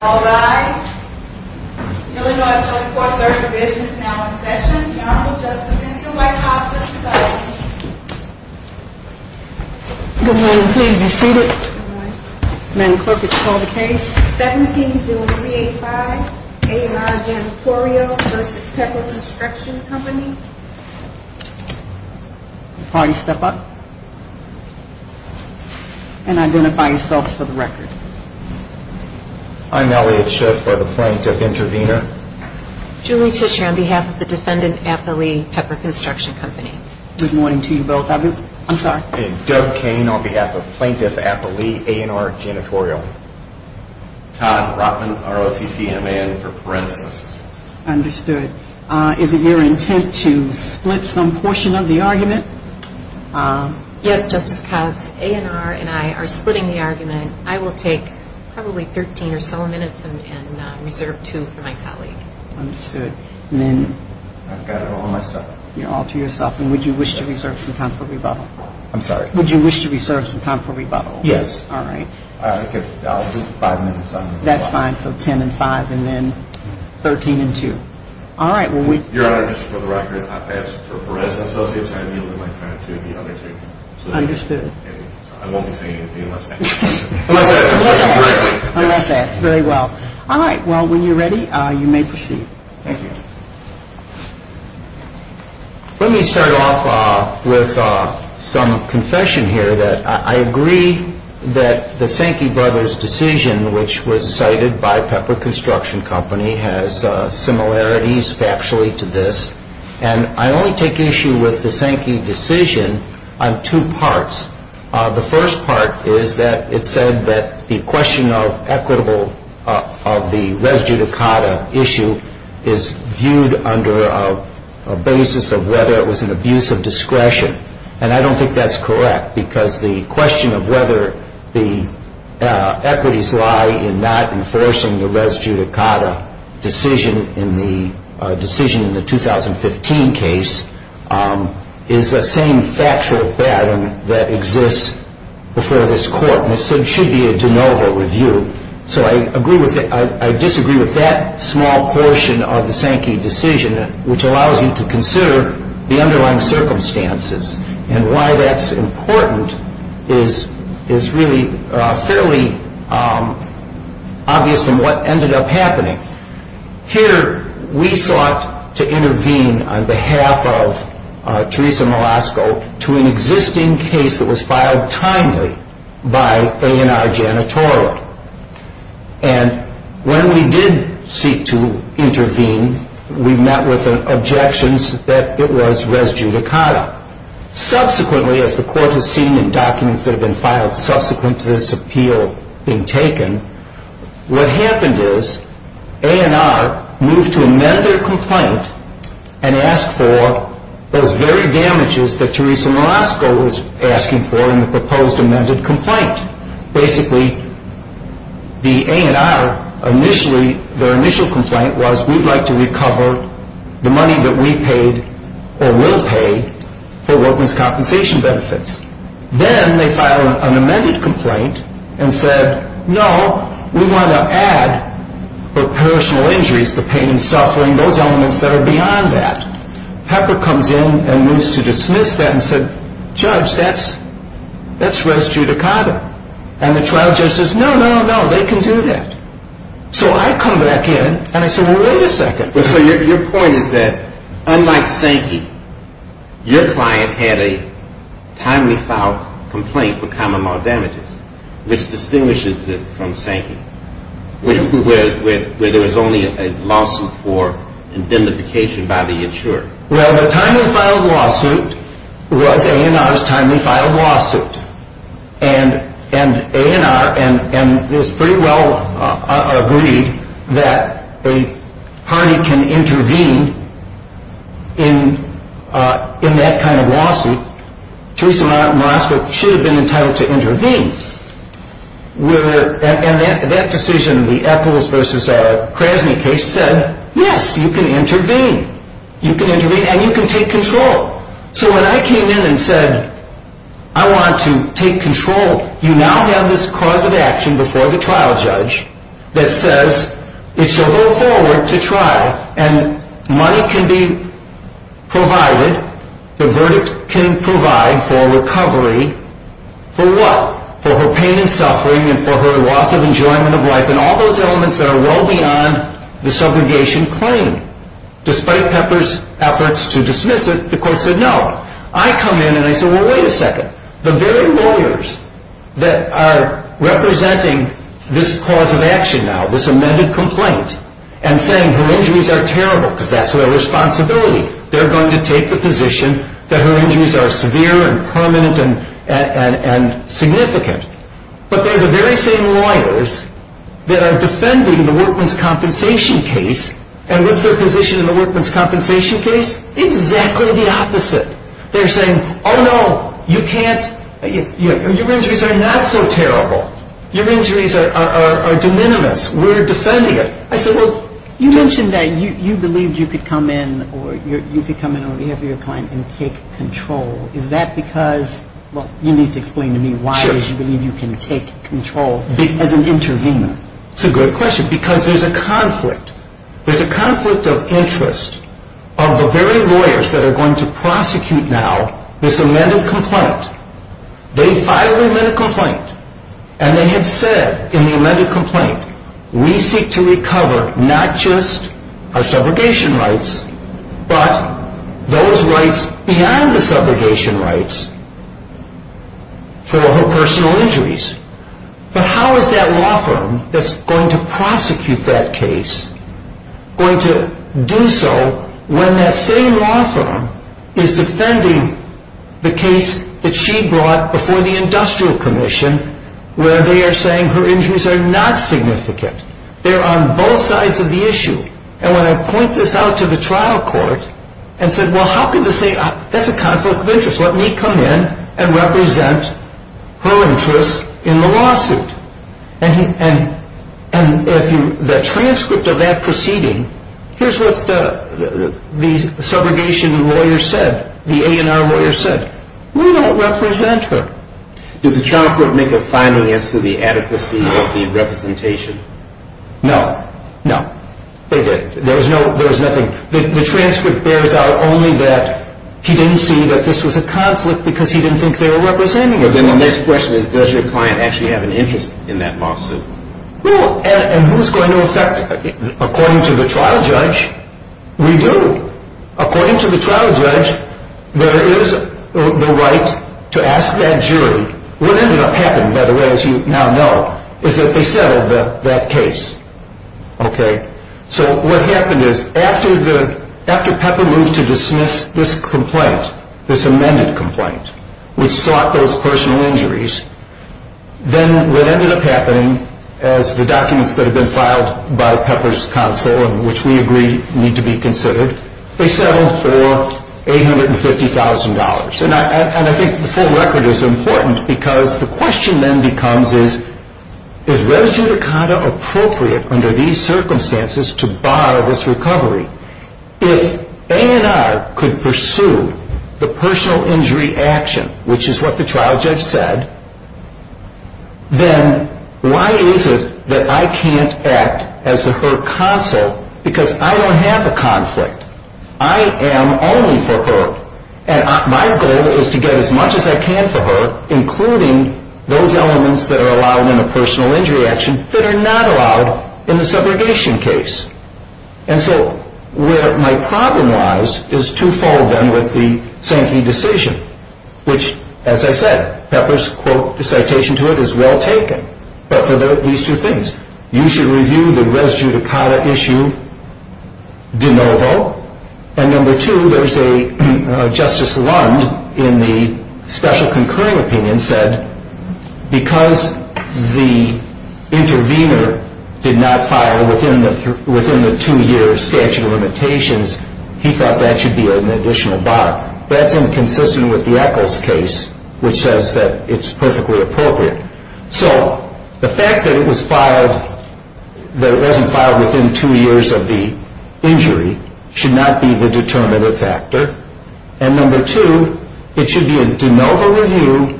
All rise. Illinois 24 Third Division is now in session. General Justice and the White House is presiding. Good morning. Please be seated. Madam Clerk, it's called the case 17-385 A&R Janitorial v. Pepper Construction Company. Party step up. And identify yourselves for the record. I'm Elliot Schiff. I'm the Plaintiff Intervenor. Julie Tisher on behalf of the Defendant Appellee Pepper Construction Company. Good morning to you both. I'm sorry. I'm Doug Kane on behalf of Plaintiff Appellee A&R Janitorial. Todd Rotman, ROTC and a man for parental assistance. Understood. Is it your intent to split some portion of the argument? Yes, Justice Cobbs. A&R and I are splitting the argument. I will take probably 13 or so minutes and reserve two for my colleague. Understood. And then... I've got it all to myself. You're all to yourself. And would you wish to reserve some time for rebuttal? I'm sorry. Would you wish to reserve some time for rebuttal? Yes. All right. I'll do five minutes. That's fine. So 10 and 5 and then 13 and 2. All right. Your Honor, just for the record, I've asked for Perez and Associates. I've yielded my time to the other two. Understood. I won't be saying anything unless asked. Unless asked. Right away. Unless asked. Very well. All right. Well, when you're ready, you may proceed. Thank you. Let me start off with some confession here. I agree that the Sankey brothers' decision, which was cited by Pepper Construction Company, has similarities factually to this. And I only take issue with the Sankey decision on two parts. The first part is that it said that the question of equitable of the res judicata issue is viewed under a basis of whether it was an abuse of discretion. And I don't think that's correct because the question of whether the equities lie in not enforcing the res judicata decision in the 2015 case is the same factual bet that exists before this Court. And it should be a de novo review. So I disagree with that small portion of the Sankey decision, which allows you to consider the underlying circumstances. And why that's important is really fairly obvious from what ended up happening. Here we sought to intervene on behalf of Teresa Molasco to an existing case that was filed timely by A&R Janitorial. And when we did seek to intervene, we met with objections that it was res judicata. Subsequently, as the Court has seen in documents that have been filed subsequent to this appeal being taken, what happened is A&R moved to amend their complaint and asked for those very damages that Teresa Molasco was asking for in the proposed amended complaint. Basically, their initial complaint was, we'd like to recover the money that we paid or will pay for workman's compensation benefits. Then they filed an amended complaint and said, no, we want to add for personal injuries, the pain and suffering, those elements that are beyond that. Pepper comes in and wants to dismiss that and said, Judge, that's res judicata. And the trial judge says, no, no, no, they can do that. So I come back in and I say, well, wait a second. So your point is that unlike Sankey, your client had a timely filed complaint for common law damages, which distinguishes it from Sankey, where there was only a lawsuit for indemnification by the insurer. Well, the timely filed lawsuit was A&R's timely filed lawsuit. And A&R and this pretty well agreed that a party can intervene in that kind of lawsuit. Teresa Molasco should have been entitled to intervene. And that decision, the Epples v. Krasny case, said, yes, you can intervene. You can intervene and you can take control. So when I came in and said, I want to take control, you now have this cause of action before the trial judge that says it should go forward to try. And money can be provided, the verdict can provide for recovery. For what? For her pain and suffering and for her loss of enjoyment of life and all those elements that are well beyond the subrogation claim. Despite Pepper's efforts to dismiss it, the court said no. I come in and I say, well, wait a second. The very lawyers that are representing this cause of action now, this amended complaint, and saying her injuries are terrible because that's their responsibility. They're going to take the position that her injuries are severe and permanent and significant. But they're the very same lawyers that are defending the Workman's Compensation case and with their position in the Workman's Compensation case, exactly the opposite. They're saying, oh, no, you can't, your injuries are not so terrible. Your injuries are de minimis. We're defending it. I said, well, you mentioned that you believed you could come in or you could come in on behalf of your client and take control. Is that because, well, you need to explain to me why you believe you can take control as an intervener. It's a good question because there's a conflict. There's a conflict of interest of the very lawyers that are going to prosecute now this amended complaint. They filed the amended complaint and they have said in the amended complaint, we seek to recover not just our subrogation rights, but those rights beyond the subrogation rights for her personal injuries. But how is that law firm that's going to prosecute that case going to do so when that same law firm is defending the case that she brought before the Industrial Commission where they are saying her injuries are not significant. They're on both sides of the issue. And when I point this out to the trial court and said, well, how can they say, that's a conflict of interest. Let me come in and represent her interests in the lawsuit. And the transcript of that proceeding, here's what the subrogation lawyer said. The A&R lawyer said, we don't represent her. Did the trial court make a finding as to the adequacy of the representation? No, no. There was nothing. The transcript bears out only that he didn't see that this was a conflict because he didn't think they were representing her. But then the next question is, does your client actually have an interest in that lawsuit? Well, and who's going to affect it? According to the trial judge, we do. According to the trial judge, there is the right to ask that jury. What ended up happening, by the way, as you now know, is that they settled that case. Okay. So what happened is, after Pepper moved to dismiss this complaint, this amended complaint, which sought those personal injuries, then what ended up happening, as the documents that have been filed by Pepper's counsel and which we agree need to be considered, they settled for $850,000. And I think the full record is important because the question then becomes, is res judicata appropriate under these circumstances to bar this recovery? If A&R could pursue the personal injury action, which is what the trial judge said, then why is it that I can't act as her counsel because I don't have a conflict? I am only for her. And my goal is to get as much as I can for her, including those elements that are allowed in a personal injury action that are not allowed in the subrogation case. And so where my problem lies is twofold then with the Sankey decision, which, as I said, Pepper's citation to it is well taken, but for these two things. You should review the res judicata issue de novo. And number two, there's a Justice Lund in the special concurring opinion said, because the intervener did not file within the two-year statute of limitations, he thought that should be an additional bar. That's inconsistent with the Eccles case, which says that it's perfectly appropriate. So the fact that it was filed, that it wasn't filed within two years of the injury, should not be the determinative factor. And number two, it should be a de novo review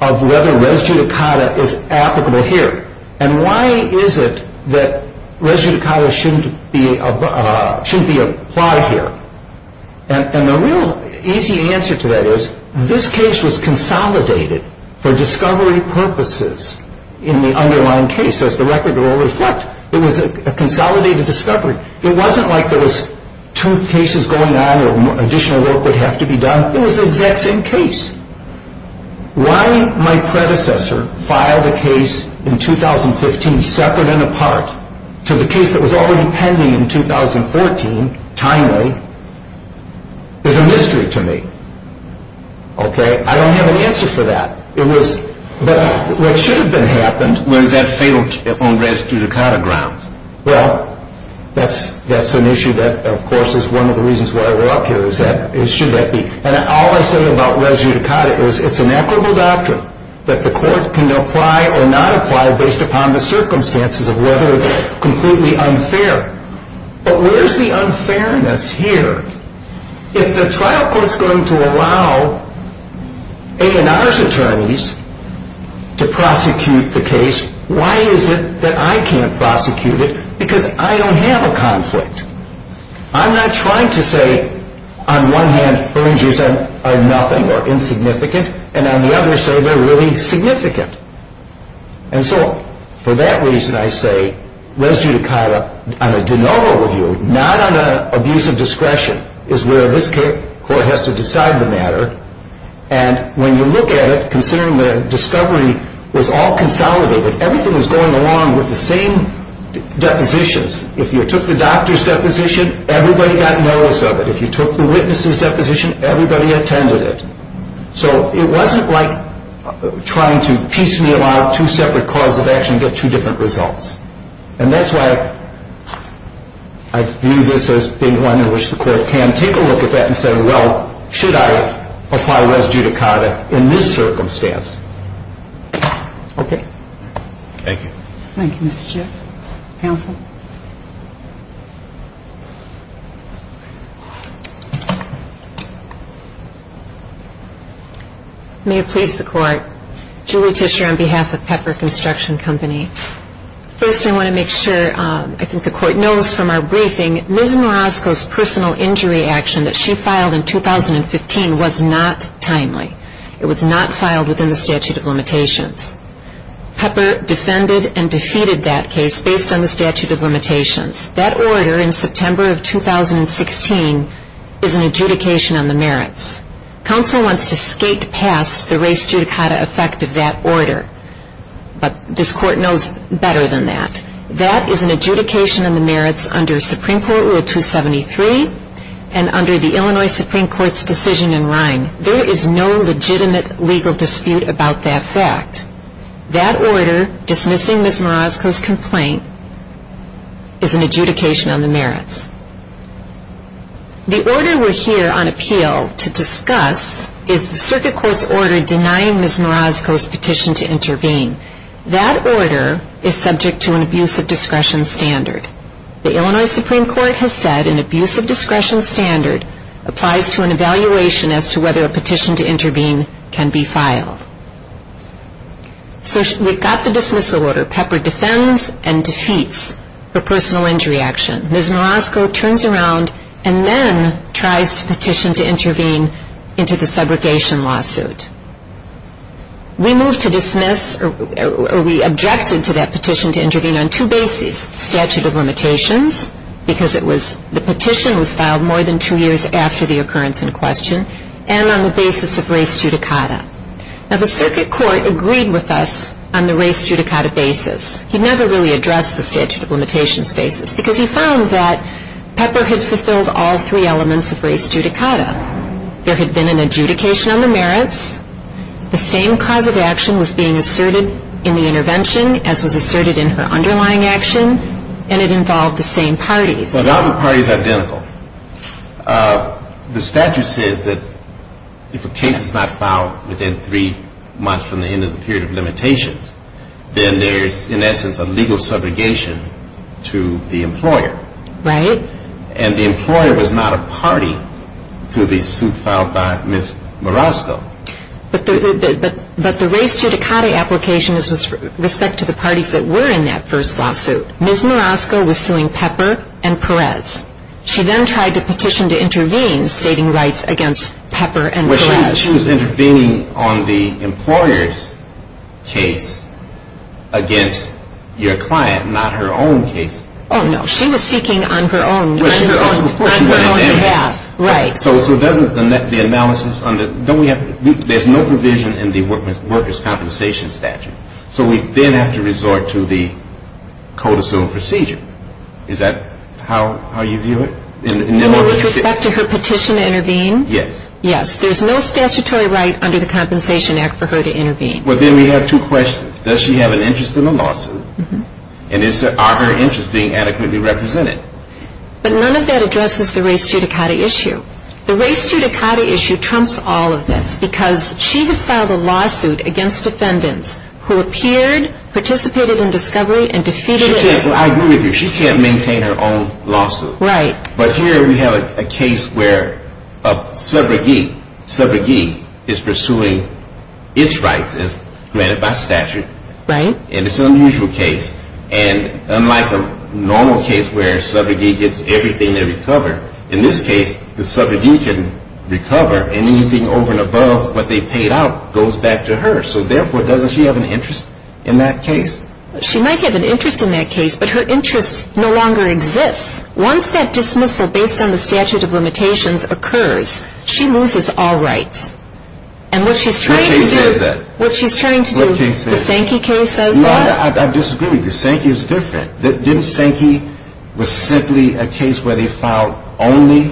of whether res judicata is applicable here. And why is it that res judicata shouldn't be applied here? And the real easy answer to that is this case was consolidated for discovery purposes in the underlying case, as the record will reflect. It was a consolidated discovery. It wasn't like there was two cases going on or additional work would have to be done. It was the exact same case. Why my predecessor filed a case in 2015 separate and apart to the case that was already pending in 2014 timely is a mystery to me. Okay? I don't have an answer for that. It was what should have been happened. Well, is that fatal on res judicata grounds? Well, that's an issue that, of course, is one of the reasons why we're up here, is should that be. And all I said about res judicata is it's an equitable doctrine that the court can apply or not apply based upon the circumstances of whether it's completely unfair. But where's the unfairness here? If the trial court's going to allow A&R's attorneys to prosecute the case, why is it that I can't prosecute it? Because I don't have a conflict. I'm not trying to say, on one hand, urges are nothing or insignificant, and on the other say they're really significant. And so for that reason I say res judicata on a de novo review, not on an abuse of discretion, is where this court has to decide the matter. And when you look at it, considering the discovery was all consolidated, everything was going along with the same depositions. If you took the doctor's deposition, everybody got notice of it. If you took the witness's deposition, everybody attended it. So it wasn't like trying to piecemeal out two separate cause of action and get two different results. And that's why I view this as being one in which the court can take a look at that and say, well, should I apply res judicata in this circumstance? Okay. Thank you. Thank you, Mr. Jeff. Counsel? May it please the court. Julie Tischer on behalf of Pepper Construction Company. First I want to make sure I think the court knows from our briefing, Ms. Marosco's personal injury action that she filed in 2015 was not timely. It was not filed within the statute of limitations. Pepper defended and defeated that case based on the statute of limitations. That order in September of 2016 is an adjudication on the merits. Counsel wants to skate past the res judicata effect of that order. But this court knows better than that. That is an adjudication on the merits under Supreme Court Rule 273 and under the Illinois Supreme Court's decision in Rhine. There is no legitimate legal dispute about that fact. That order dismissing Ms. Marosco's complaint is an adjudication on the merits. The order we're here on appeal to discuss is the circuit court's order denying Ms. Marosco's petition to intervene. That order is subject to an abuse of discretion standard. The Illinois Supreme Court has said an abuse of discretion standard applies to an evaluation as to whether a petition to intervene can be filed. So we've got the dismissal order. Pepper defends and defeats her personal injury action. Ms. Marosco turns around and then tries to petition to intervene into the segregation lawsuit. We moved to dismiss or we objected to that petition to intervene on two bases, statute of limitations, because the petition was filed more than two years after the occurrence in question, and on the basis of res judicata. Now, the circuit court agreed with us on the res judicata basis. He never really addressed the statute of limitations basis, because he found that Pepper had fulfilled all three elements of res judicata. There had been an adjudication on the merits. The same cause of action was being asserted in the intervention as was asserted in her underlying action, and it involved the same parties. Well, now the parties are identical. The statute says that if a case is not filed within three months from the end of the period of limitations, then there's, in essence, a legal subrogation to the employer. Right. And the employer was not a party to the suit filed by Ms. Marosco. But the res judicata application was with respect to the parties that were in that first lawsuit. Ms. Marosco was suing Pepper and Perez. She then tried to petition to intervene, stating rights against Pepper and Perez. Well, she was intervening on the employer's case against your client, not her own case. Oh, no. She was seeking on her own behalf. Right. So doesn't the analysis under, don't we have, there's no provision in the workers' compensation statute. So we then have to resort to the codicil procedure. Is that how you view it? And then with respect to her petition to intervene? Yes. There's no statutory right under the Compensation Act for her to intervene. Well, then we have two questions. Does she have an interest in the lawsuit? And are her interests being adequately represented? But none of that addresses the res judicata issue. The res judicata issue trumps all of this because she has filed a lawsuit against defendants who appeared, participated in discovery, and defeated it. I agree with you. She can't maintain her own lawsuit. Right. But here we have a case where a subrogee is pursuing its rights as granted by statute. Right. And it's an unusual case. And unlike a normal case where a subrogee gets everything they recover, in this case, the subrogee can recover anything over and above what they paid out goes back to her. So, therefore, doesn't she have an interest in that case? She might have an interest in that case, but her interest no longer exists. Once that dismissal based on the statute of limitations occurs, she loses all rights. And what she's trying to do. What case says that? What she's trying to do. What case says that? The Sankey case says that? No, I disagree with you. Sankey is different. Didn't Sankey was simply a case where they filed only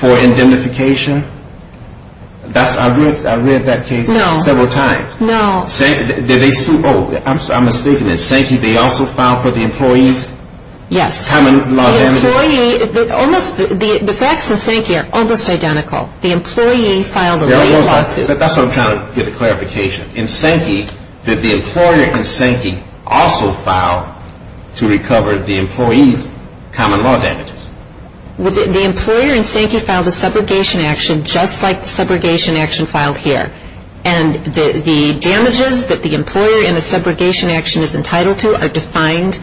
for indemnification? I read that case several times. No. I'm mistaken. In Sankey, they also filed for the employee's common law damages? Yes. The facts in Sankey are almost identical. The employee filed away a lawsuit. That's what I'm trying to get a clarification. In Sankey, did the employer in Sankey also file to recover the employee's common law damages? The employer in Sankey filed a subrogation action just like the subrogation action filed here. And the damages that the employer in the subrogation action is entitled to are defined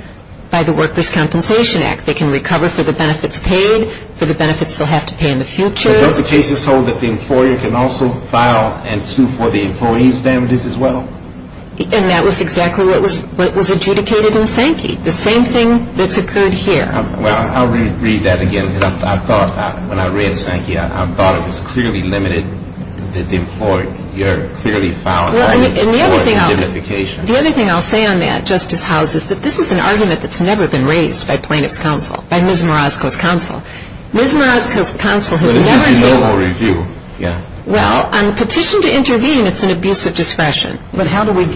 by the Workers' Compensation Act. They can recover for the benefits paid, for the benefits they'll have to pay in the future. But don't the cases hold that the employer can also file and sue for the employee's damages as well? And that was exactly what was adjudicated in Sankey. The same thing that's occurred here. Well, I'll read that again. I thought when I read Sankey, I thought it was clearly limited that the employer here clearly filed for indemnification. The other thing I'll say on that, Justice House, is that this is an argument that's never been raised by plaintiff's counsel, by Ms. Marasko's counsel. Ms. Marasko's counsel has never dealt with it. Well, on petition to intervene, it's an abuse of discretion. But don't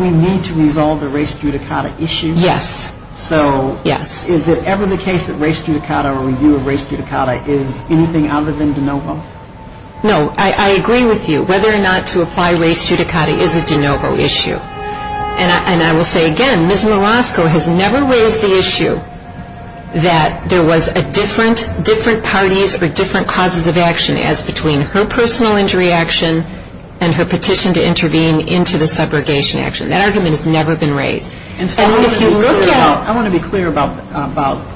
we need to resolve the race judicata issue? Yes. So is it ever the case that race judicata or review of race judicata is anything other than de novo? No. I agree with you. Whether or not to apply race judicata is a de novo issue. And I will say again, Ms. Marasko has never raised the issue that there was a different parties or different causes of action as between her personal injury action and her petition to intervene into the subrogation action. That argument has never been raised. And so I want to be clear about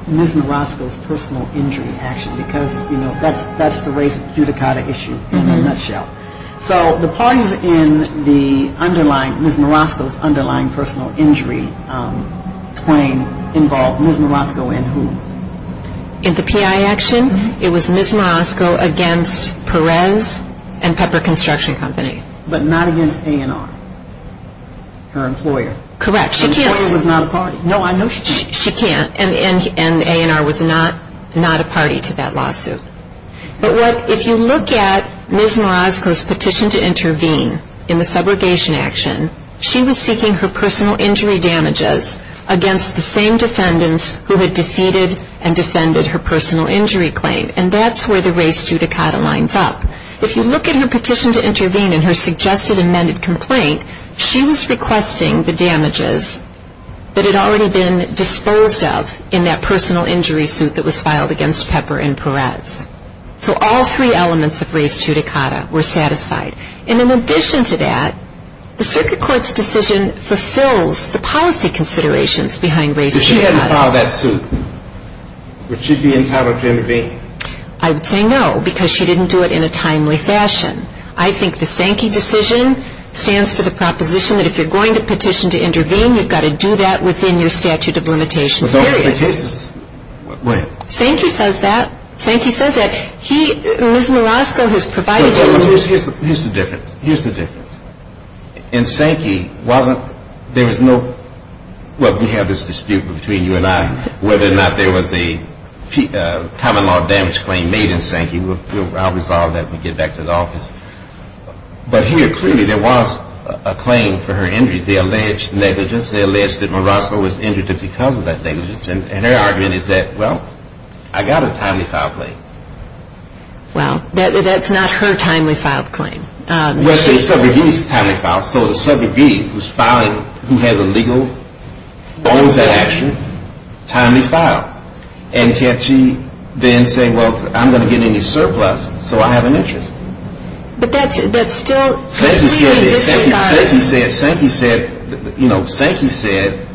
Ms. Marasko's personal injury action because, you know, that's the race judicata issue in a nutshell. So the parties in the underlying, Ms. Marasko's underlying personal injury claim involved Ms. Marasko and whom? In the PI action, it was Ms. Marasko against Perez and Pepper Construction Company. But not against A&R, her employer. Correct. Her employer was not a party. No, I know she can't. She can't. And A&R was not a party to that lawsuit. But if you look at Ms. Marasko's petition to intervene in the subrogation action, she was seeking her personal injury damages against the same defendants who had defeated and defended her personal injury claim. And that's where the race judicata lines up. If you look at her petition to intervene in her suggested amended complaint, she was requesting the damages that had already been disposed of in that personal injury suit that was filed against Pepper and Perez. So all three elements of race judicata were satisfied. And in addition to that, the circuit court's decision fulfills the policy considerations behind race judicata. If she hadn't filed that suit, would she be entitled to intervene? I would say no, because she didn't do it in a timely fashion. I think the Sankey decision stands for the proposition that if you're going to petition to intervene, you've got to do that within your statute of limitations period. Sankey says that. Sankey says that. He, Ms. Marasko, has provided you. Here's the difference. Here's the difference. In Sankey, wasn't, there was no, well, we have this dispute between you and I, whether or not there was a common law damage claim made in Sankey. I'll resolve that when we get back to the office. But here, clearly, there was a claim for her injuries. They allege negligence. They allege that Marasko was injured because of that negligence. And her argument is that, well, I got a timely file claim. Well, that's not her timely file claim. Well, so the subrogate is timely filed. So the subrogate who's filing, who has a legal bonanza action, timely filed. And can't she then say, well, I'm going to get any surplus, so I have an interest. But that's still completely disenfranchised. Sankey said, you know, Sankey said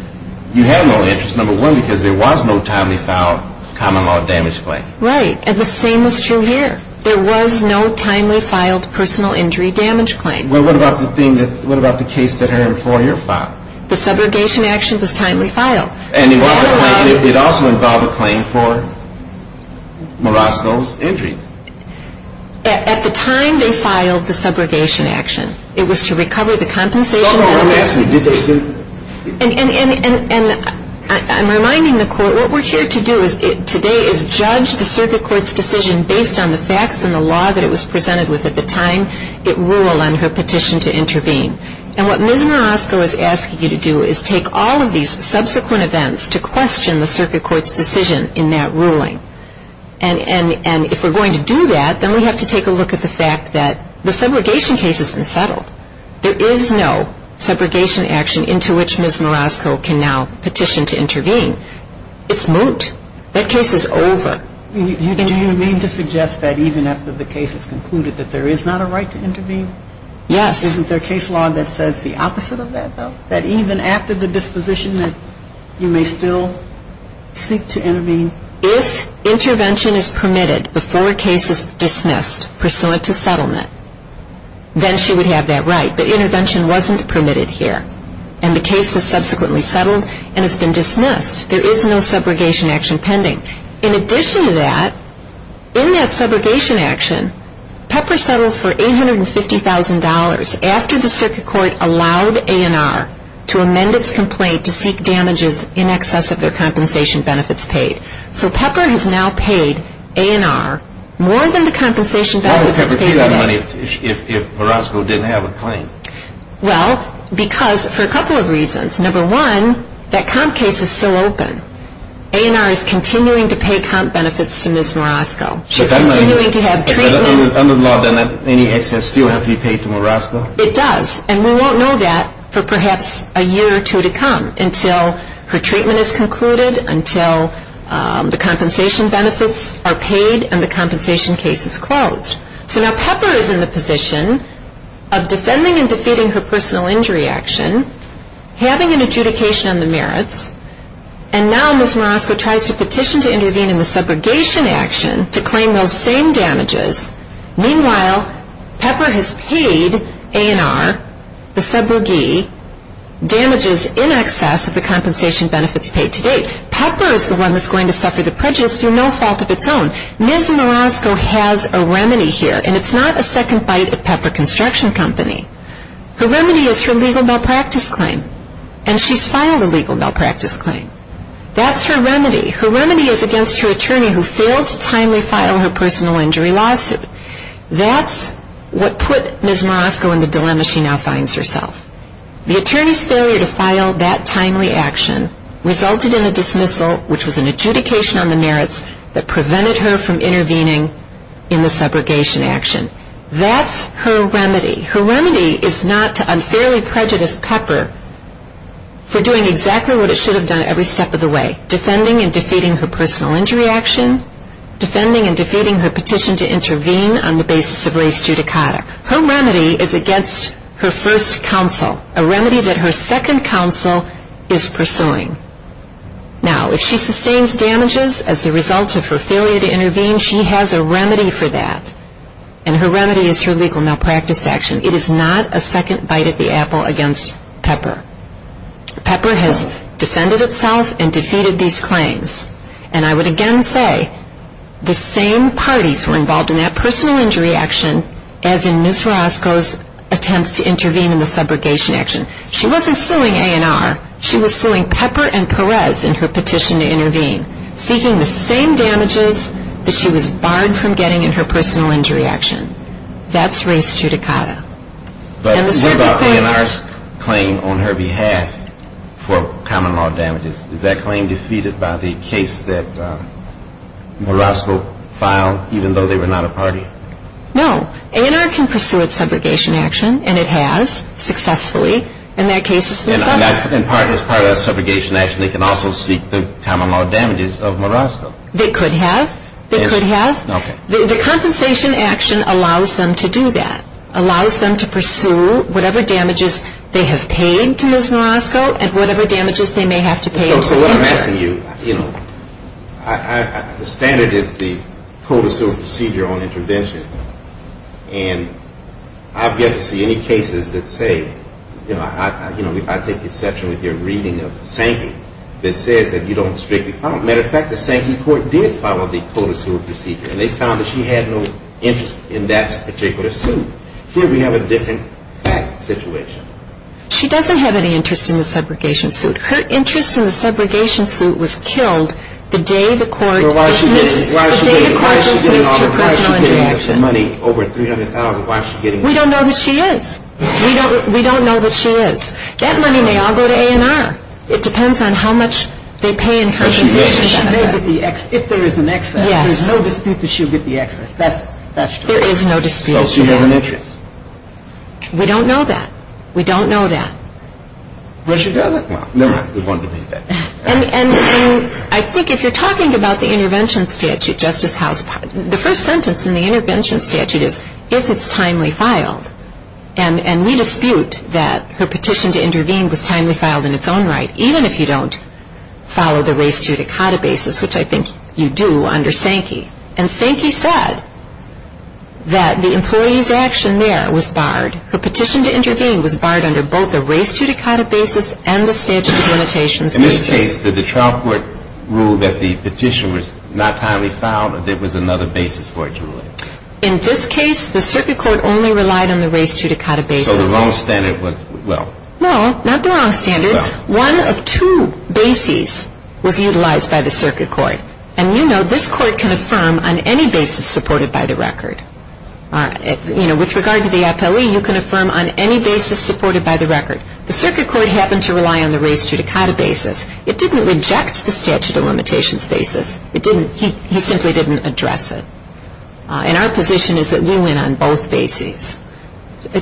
you have no interest, number one, because there was no timely filed common law damage claim. Right. And the same is true here. There was no timely filed personal injury damage claim. Well, what about the thing that, what about the case that her employer filed? The subrogation action was timely filed. And it also involved a claim for Marasko's injuries. At the time they filed the subrogation action, it was to recover the compensation. No, no, no. And I'm reminding the court, what we're here to do today is judge the circuit court's decision based on the facts and the law that it was presented with at the time it ruled on her petition to intervene. And what Ms. Marasko is asking you to do is take all of these subsequent events to question the circuit court's decision in that ruling. And if we're going to do that, then we have to take a look at the fact that the subrogation case has been settled. There is no subrogation action into which Ms. Marasko can now petition to intervene. It's moot. That case is over. Do you mean to suggest that even after the case is concluded that there is not a right to intervene? Yes. Isn't there case law that says the opposite of that, though? That even after the disposition that you may still seek to intervene? If intervention is permitted before a case is dismissed pursuant to settlement, then she would have that right. But intervention wasn't permitted here. And the case is subsequently settled and has been dismissed. There is no subrogation action pending. In addition to that, in that subrogation action, Pepper settles for $850,000 after the circuit court allowed A&R to amend its complaint to seek damages in excess of their compensation benefits paid. So Pepper has now paid A&R more than the compensation benefits paid to them. Why would Pepper pay that money if Marasko didn't have a claim? Well, because for a couple of reasons. Number one, that comp case is still open. A&R is continuing to pay comp benefits to Ms. Marasko. She's continuing to have treatment. Under the law, then, any excess still has to be paid to Marasko? It does, and we won't know that for perhaps a year or two to come until her treatment is concluded, until the compensation benefits are paid and the compensation case is closed. So now Pepper is in the position of defending and defeating her personal injury action, having an adjudication on the merits, and now Ms. Marasko tries to petition to intervene in the subrogation action to claim those same damages. Meanwhile, Pepper has paid A&R, the subrogee, damages in excess of the compensation benefits paid to date. Pepper is the one that's going to suffer the prejudice through no fault of its own. Ms. Marasko has a remedy here, and it's not a second bite at Pepper Construction Company. Her remedy is her legal malpractice claim, and she's filed a legal malpractice claim. That's her remedy. Her remedy is against her attorney who failed to timely file her personal injury lawsuit. That's what put Ms. Marasko in the dilemma she now finds herself. The attorney's failure to file that timely action resulted in a dismissal, which was an adjudication on the merits that prevented her from intervening in the subrogation action. That's her remedy. Her remedy is not to unfairly prejudice Pepper for doing exactly what it should have done every step of the way, defending and defeating her personal injury action, defending and defeating her petition to intervene on the basis of res judicata. Her remedy is against her first counsel, a remedy that her second counsel is pursuing. Now, if she sustains damages as the result of her failure to intervene, she has a remedy for that, and her remedy is her legal malpractice action. It is not a second bite at the apple against Pepper. Pepper has defended itself and defeated these claims, and I would again say the same parties were involved in that personal injury action as in Ms. Marasko's attempts to intervene in the subrogation action. She wasn't suing A&R. She was suing Pepper and Perez in her petition to intervene, seeking the same damages that she was barred from getting in her personal injury action. That's res judicata. But what about A&R's claim on her behalf for common law damages? Is that claim defeated by the case that Marasko filed, even though they were not a party? No. A&R can pursue its subrogation action, and it has successfully, and that case has been settled. As part of that subrogation action, they can also seek the common law damages of Marasko. They could have. They could have. Okay. The compensation action allows them to do that, allows them to pursue whatever damages they have paid to Ms. Marasko and whatever damages they may have to pay in the future. So what I'm asking you, you know, the standard is the provisional procedure on intervention, and I've yet to see any cases that say, you know, I take exception with your reading of Sankey, that says that you don't strictly follow. Matter of fact, the Sankey court did follow the code of civil procedure, and they found that she had no interest in that particular suit. Here we have a different fact situation. She doesn't have any interest in the subrogation suit. Her interest in the subrogation suit was killed the day the court dismissed her personal interaction. Why is she getting so much money, over $300,000? We don't know that she is. We don't know that she is. That money may all go to A&R. It depends on how much they pay in compensation. If there is an excess. Yes. There's no dispute that she'll get the excess. That's true. There is no dispute. So she has an interest. We don't know that. We don't know that. Well, she doesn't. Well, never have we wanted to be there. And I think if you're talking about the intervention statute, Justice House, the first sentence in the intervention statute is if it's timely filed. And we dispute that her petition to intervene was timely filed in its own right, even if you don't follow the res judicata basis, which I think you do under Sankey. And Sankey said that the employee's action there was barred. Her petition to intervene was barred under both the res judicata basis and the statute of limitations basis. In this case, did the trial court rule that the petition was not timely filed or there was another basis for it, Julie? In this case, the circuit court only relied on the res judicata basis. So the wrong standard was, well. No, not the wrong standard. Well. One of two bases was utilized by the circuit court. And you know this court can affirm on any basis supported by the record. With regard to the appellee, you can affirm on any basis supported by the record. The circuit court happened to rely on the res judicata basis. It didn't reject the statute of limitations basis. It didn't. He simply didn't address it. And our position is that we went on both bases. Pepper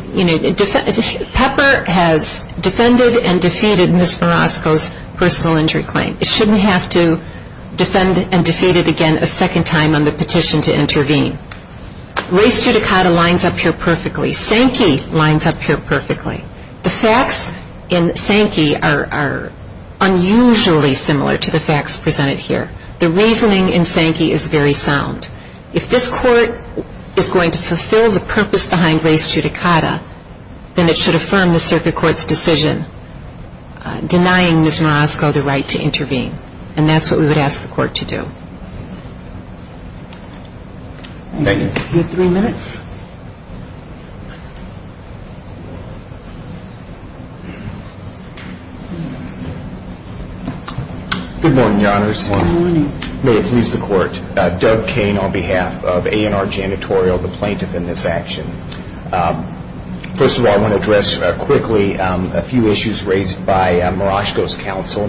has defended and defeated Ms. Marosco's personal injury claim. It shouldn't have to defend and defeat it again a second time on the petition to intervene. Res judicata lines up here perfectly. Sankey lines up here perfectly. The facts in Sankey are unusually similar to the facts presented here. The reasoning in Sankey is very sound. If this court is going to fulfill the purpose behind res judicata, then it should affirm the circuit court's decision denying Ms. Marosco the right to intervene. And that's what we would ask the court to do. Thank you. You have three minutes. Good morning, Your Honors. Good morning. May it please the court. Doug Cain on behalf of A&R Janitorial, the plaintiff in this action. First of all, I want to address quickly a few issues raised by Marosco's counsel.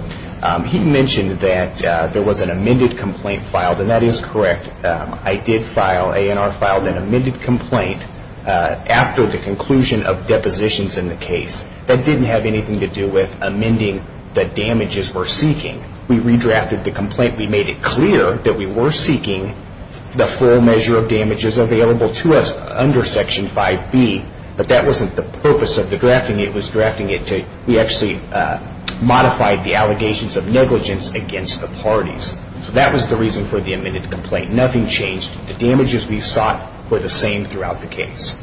He mentioned that there was an amended complaint filed, and that is correct. I did file, A&R filed an amended complaint after the conclusion of depositions in the case. That didn't have anything to do with amending the damages we're seeking. We redrafted the complaint. We made it clear that we were seeking the full measure of damages available to us under Section 5B, but that wasn't the purpose of the drafting. It was drafting it to, we actually modified the allegations of negligence against the parties. So that was the reason for the amended complaint. Nothing changed. The damages we sought were the same throughout the case.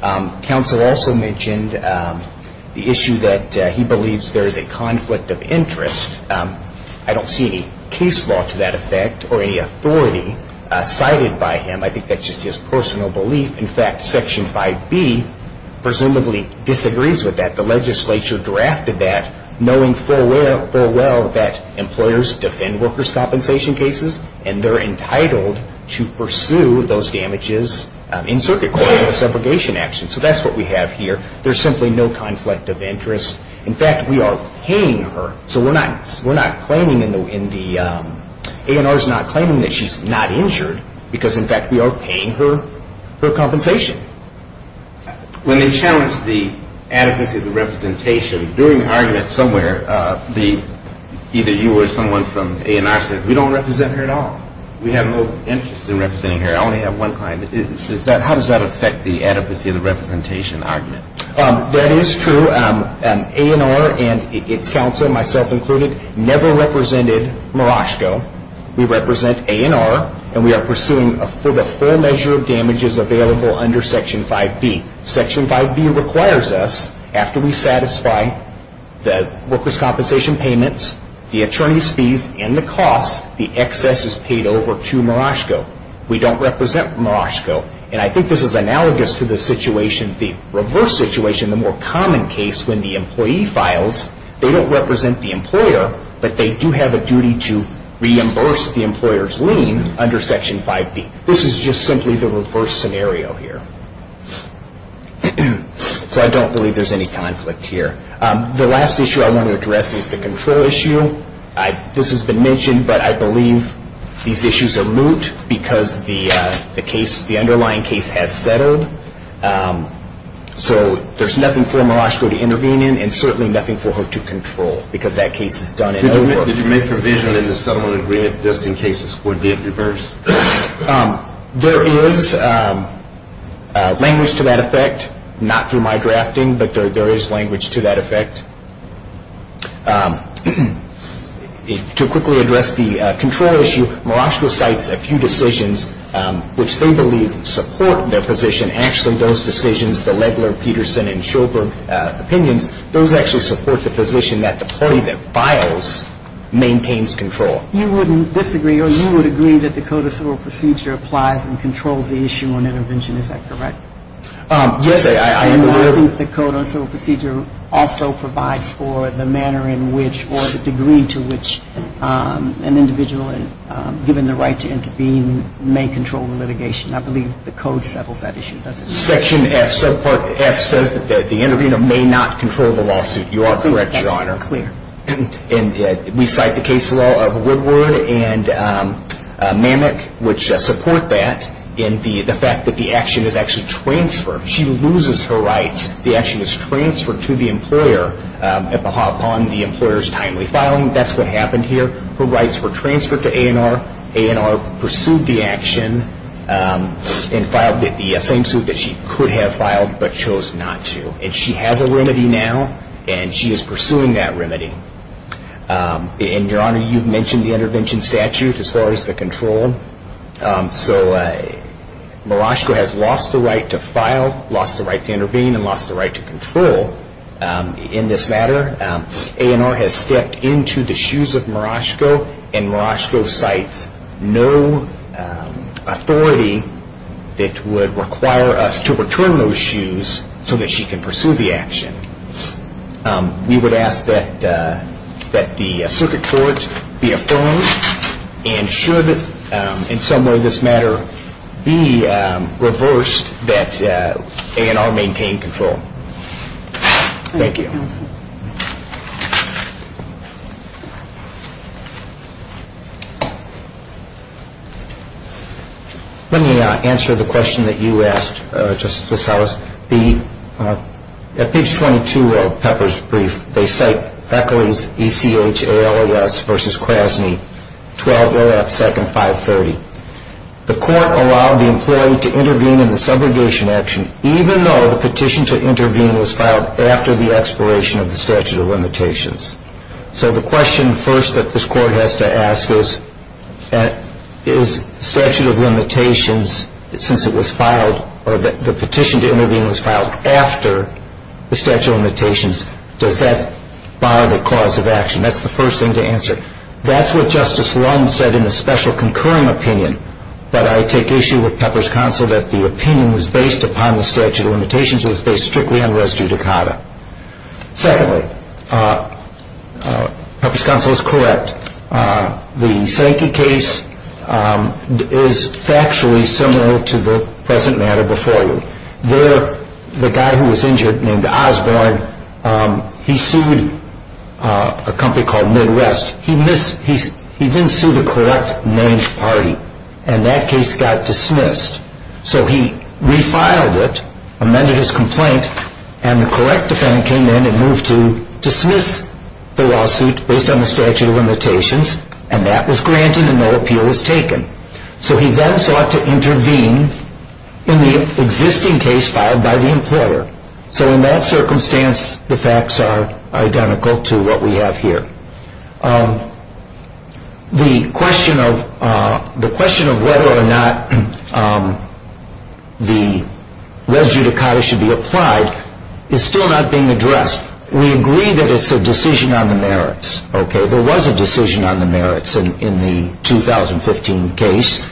Counsel also mentioned the issue that he believes there is a conflict of interest. I don't see any case law to that effect or any authority cited by him. I think that's just his personal belief. In fact, Section 5B presumably disagrees with that. The legislature drafted that knowing full well that employers defend workers' compensation cases, and they're entitled to pursue those damages in circuit court with a separation action. So that's what we have here. There's simply no conflict of interest. In fact, we are paying her. So we're not claiming in the, A&R's not claiming that she's not injured because, in fact, we are paying her her compensation. When they challenged the adequacy of the representation, during the argument somewhere, either you or someone from A&R said, we don't represent her at all. We have no interest in representing her. I only have one client. How does that affect the adequacy of the representation argument? That is true. A&R and its counsel, myself included, never represented Maraschko. We represent A&R, and we are pursuing for the full measure of damages available under Section 5B. Section 5B requires us, after we satisfy the workers' compensation payments, the attorney's fees, and the costs, the excess is paid over to Maraschko. We don't represent Maraschko. And I think this is analogous to the situation, the reverse situation, the more common case when the employee files. They don't represent the employer, but they do have a duty to reimburse the employer's lien under Section 5B. This is just simply the reverse scenario here. So I don't believe there's any conflict here. The last issue I want to address is the control issue. This has been mentioned, but I believe these issues are moot because the underlying case has settled. So there's nothing for Maraschko to intervene in and certainly nothing for her to control because that case is done and over. Did you make provision in the settlement agreement just in case this would be a reverse? There is language to that effect, not through my drafting, but there is language to that effect. To quickly address the control issue, Maraschko cites a few decisions which they believe support their position. Actually, those decisions, the Legler, Peterson, and Shulker opinions, those actually support the position that the party that files maintains control. You wouldn't disagree or you would agree that the Code of Civil Procedure applies and controls the issue on intervention. Is that correct? Yes, I am aware of that. I believe the Code of Civil Procedure also provides for the manner in which or the degree to which an individual, given the right to intervene, may control the litigation. I believe the Code settles that issue, doesn't it? Section F, subpart F, says that the intervener may not control the lawsuit. You are correct, Your Honor. That's clear. And we cite the case law of Woodward and Mammock, which support that, in the fact that the action is actually transferred. She loses her rights. The action is transferred to the employer upon the employer's timely filing. That's what happened here. Her rights were transferred to A&R. A&R pursued the action and filed the same suit that she could have filed but chose not to. And she has a remedy now, and she is pursuing that remedy. And, Your Honor, you've mentioned the intervention statute as far as the control. So Murashiko has lost the right to file, lost the right to intervene, and lost the right to control in this matter. A&R has stepped into the shoes of Murashiko, and Murashiko cites no authority that would require us to return those shoes so that she can pursue the action. We would ask that the circuit court be affirmed and should, in some way, this matter, be reversed, that A&R maintain control. Thank you. Let me answer the question that you asked, Justice Ellis. At page 22 of Pepper's brief, they cite Eccles, E-C-H-A-L-E-S, v. Krasny, 12.0.2.530. The court allowed the employee to intervene in the subrogation action, even though the petition to intervene was filed after the expiration of the statute of limitations. So the question first that this court has to ask is, is statute of limitations, since it was filed or the petition to intervene was filed after the statute of limitations, does that bar the cause of action? That's the first thing to answer. That's what Justice Lund said in a special concurring opinion, but I take issue with Pepper's counsel that the opinion was based upon the statute of limitations, it was based strictly on res judicata. Secondly, Pepper's counsel is correct. The Sankey case is factually similar to the present matter before you. The guy who was injured named Osborne, he sued a company called MidRest. He didn't sue the correct named party, and that case got dismissed. So he refiled it, amended his complaint, and the correct defendant came in and moved to dismiss the lawsuit based on the statute of limitations, and that was granted and no appeal was taken. So he then sought to intervene in the existing case filed by the employer. So in that circumstance, the facts are identical to what we have here. The question of whether or not the res judicata should be applied is still not being addressed. We agree that it's a decision on the merits. There was a decision on the merits in the 2015 case,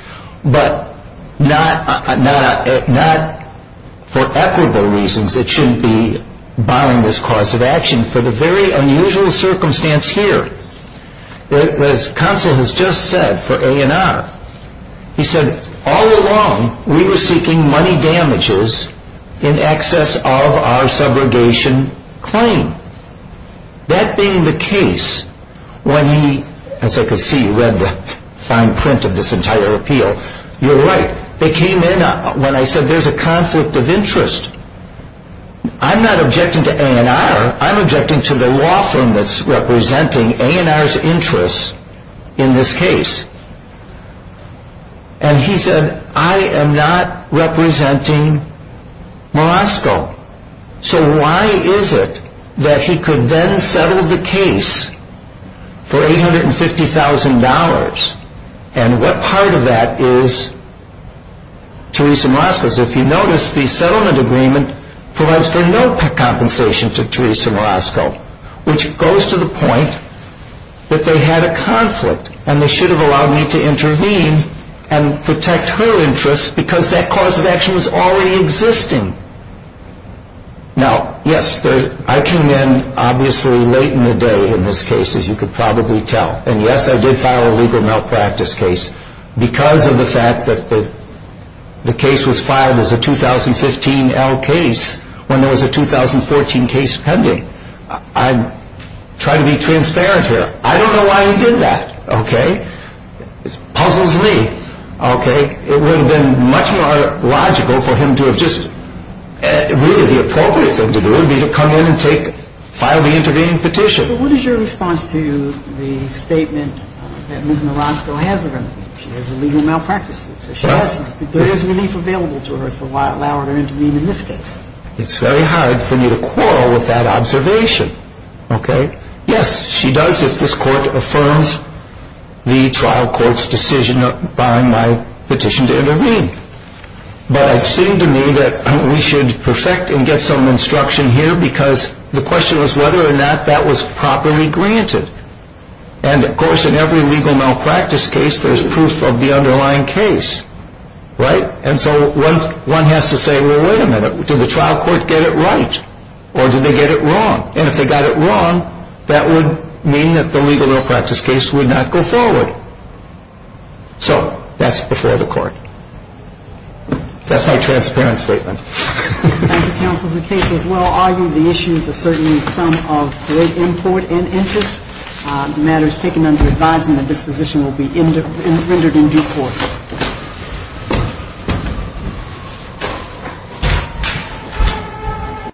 but not for equitable reasons it shouldn't be barring this cause of action. For the very unusual circumstance here, as counsel has just said for A&R, he said all along we were seeking money damages in excess of our subrogation claim. That being the case, when he, as I can see, read the fine print of this entire appeal, you're right, they came in when I said there's a conflict of interest. I'm not objecting to A&R. I'm objecting to the law firm that's representing A&R's interests in this case. And he said, I am not representing Morasco. So why is it that he could then settle the case for $850,000, and what part of that is Teresa Morasco's? Because if you notice, the settlement agreement provides for no compensation to Teresa Morasco, which goes to the point that they had a conflict, and they should have allowed me to intervene and protect her interests because that cause of action was already existing. Now, yes, I came in obviously late in the day in this case, as you could probably tell. And, yes, I did file a legal malpractice case because of the fact that the case was filed as a 2015-L case when there was a 2014 case pending. I try to be transparent here. I don't know why he did that. Okay? It puzzles me. Okay? It would have been much more logical for him to have just, really, the appropriate thing to do would be to come in and take, file the intervening petition. But what is your response to the statement that Ms. Morasco has a remedy? She has a legal malpractice case. There is relief available to her, so why allow her to intervene in this case? It's very hard for me to quarrel with that observation. Okay? Yes, she does, if this court affirms the trial court's decision by my petition to intervene. But it seemed to me that we should perfect and get some instruction here because the question was whether or not that was properly granted. And, of course, in every legal malpractice case there is proof of the underlying case. Right? And so one has to say, well, wait a minute, did the trial court get it right or did they get it wrong? And if they got it wrong, that would mean that the legal malpractice case would not go forward. So that's before the court. That's my transparent statement. Thank you, counsel. The case is well argued. The issues are certainly some of great import and interest. The matter is taken under advisement. Disposition will be rendered in due course.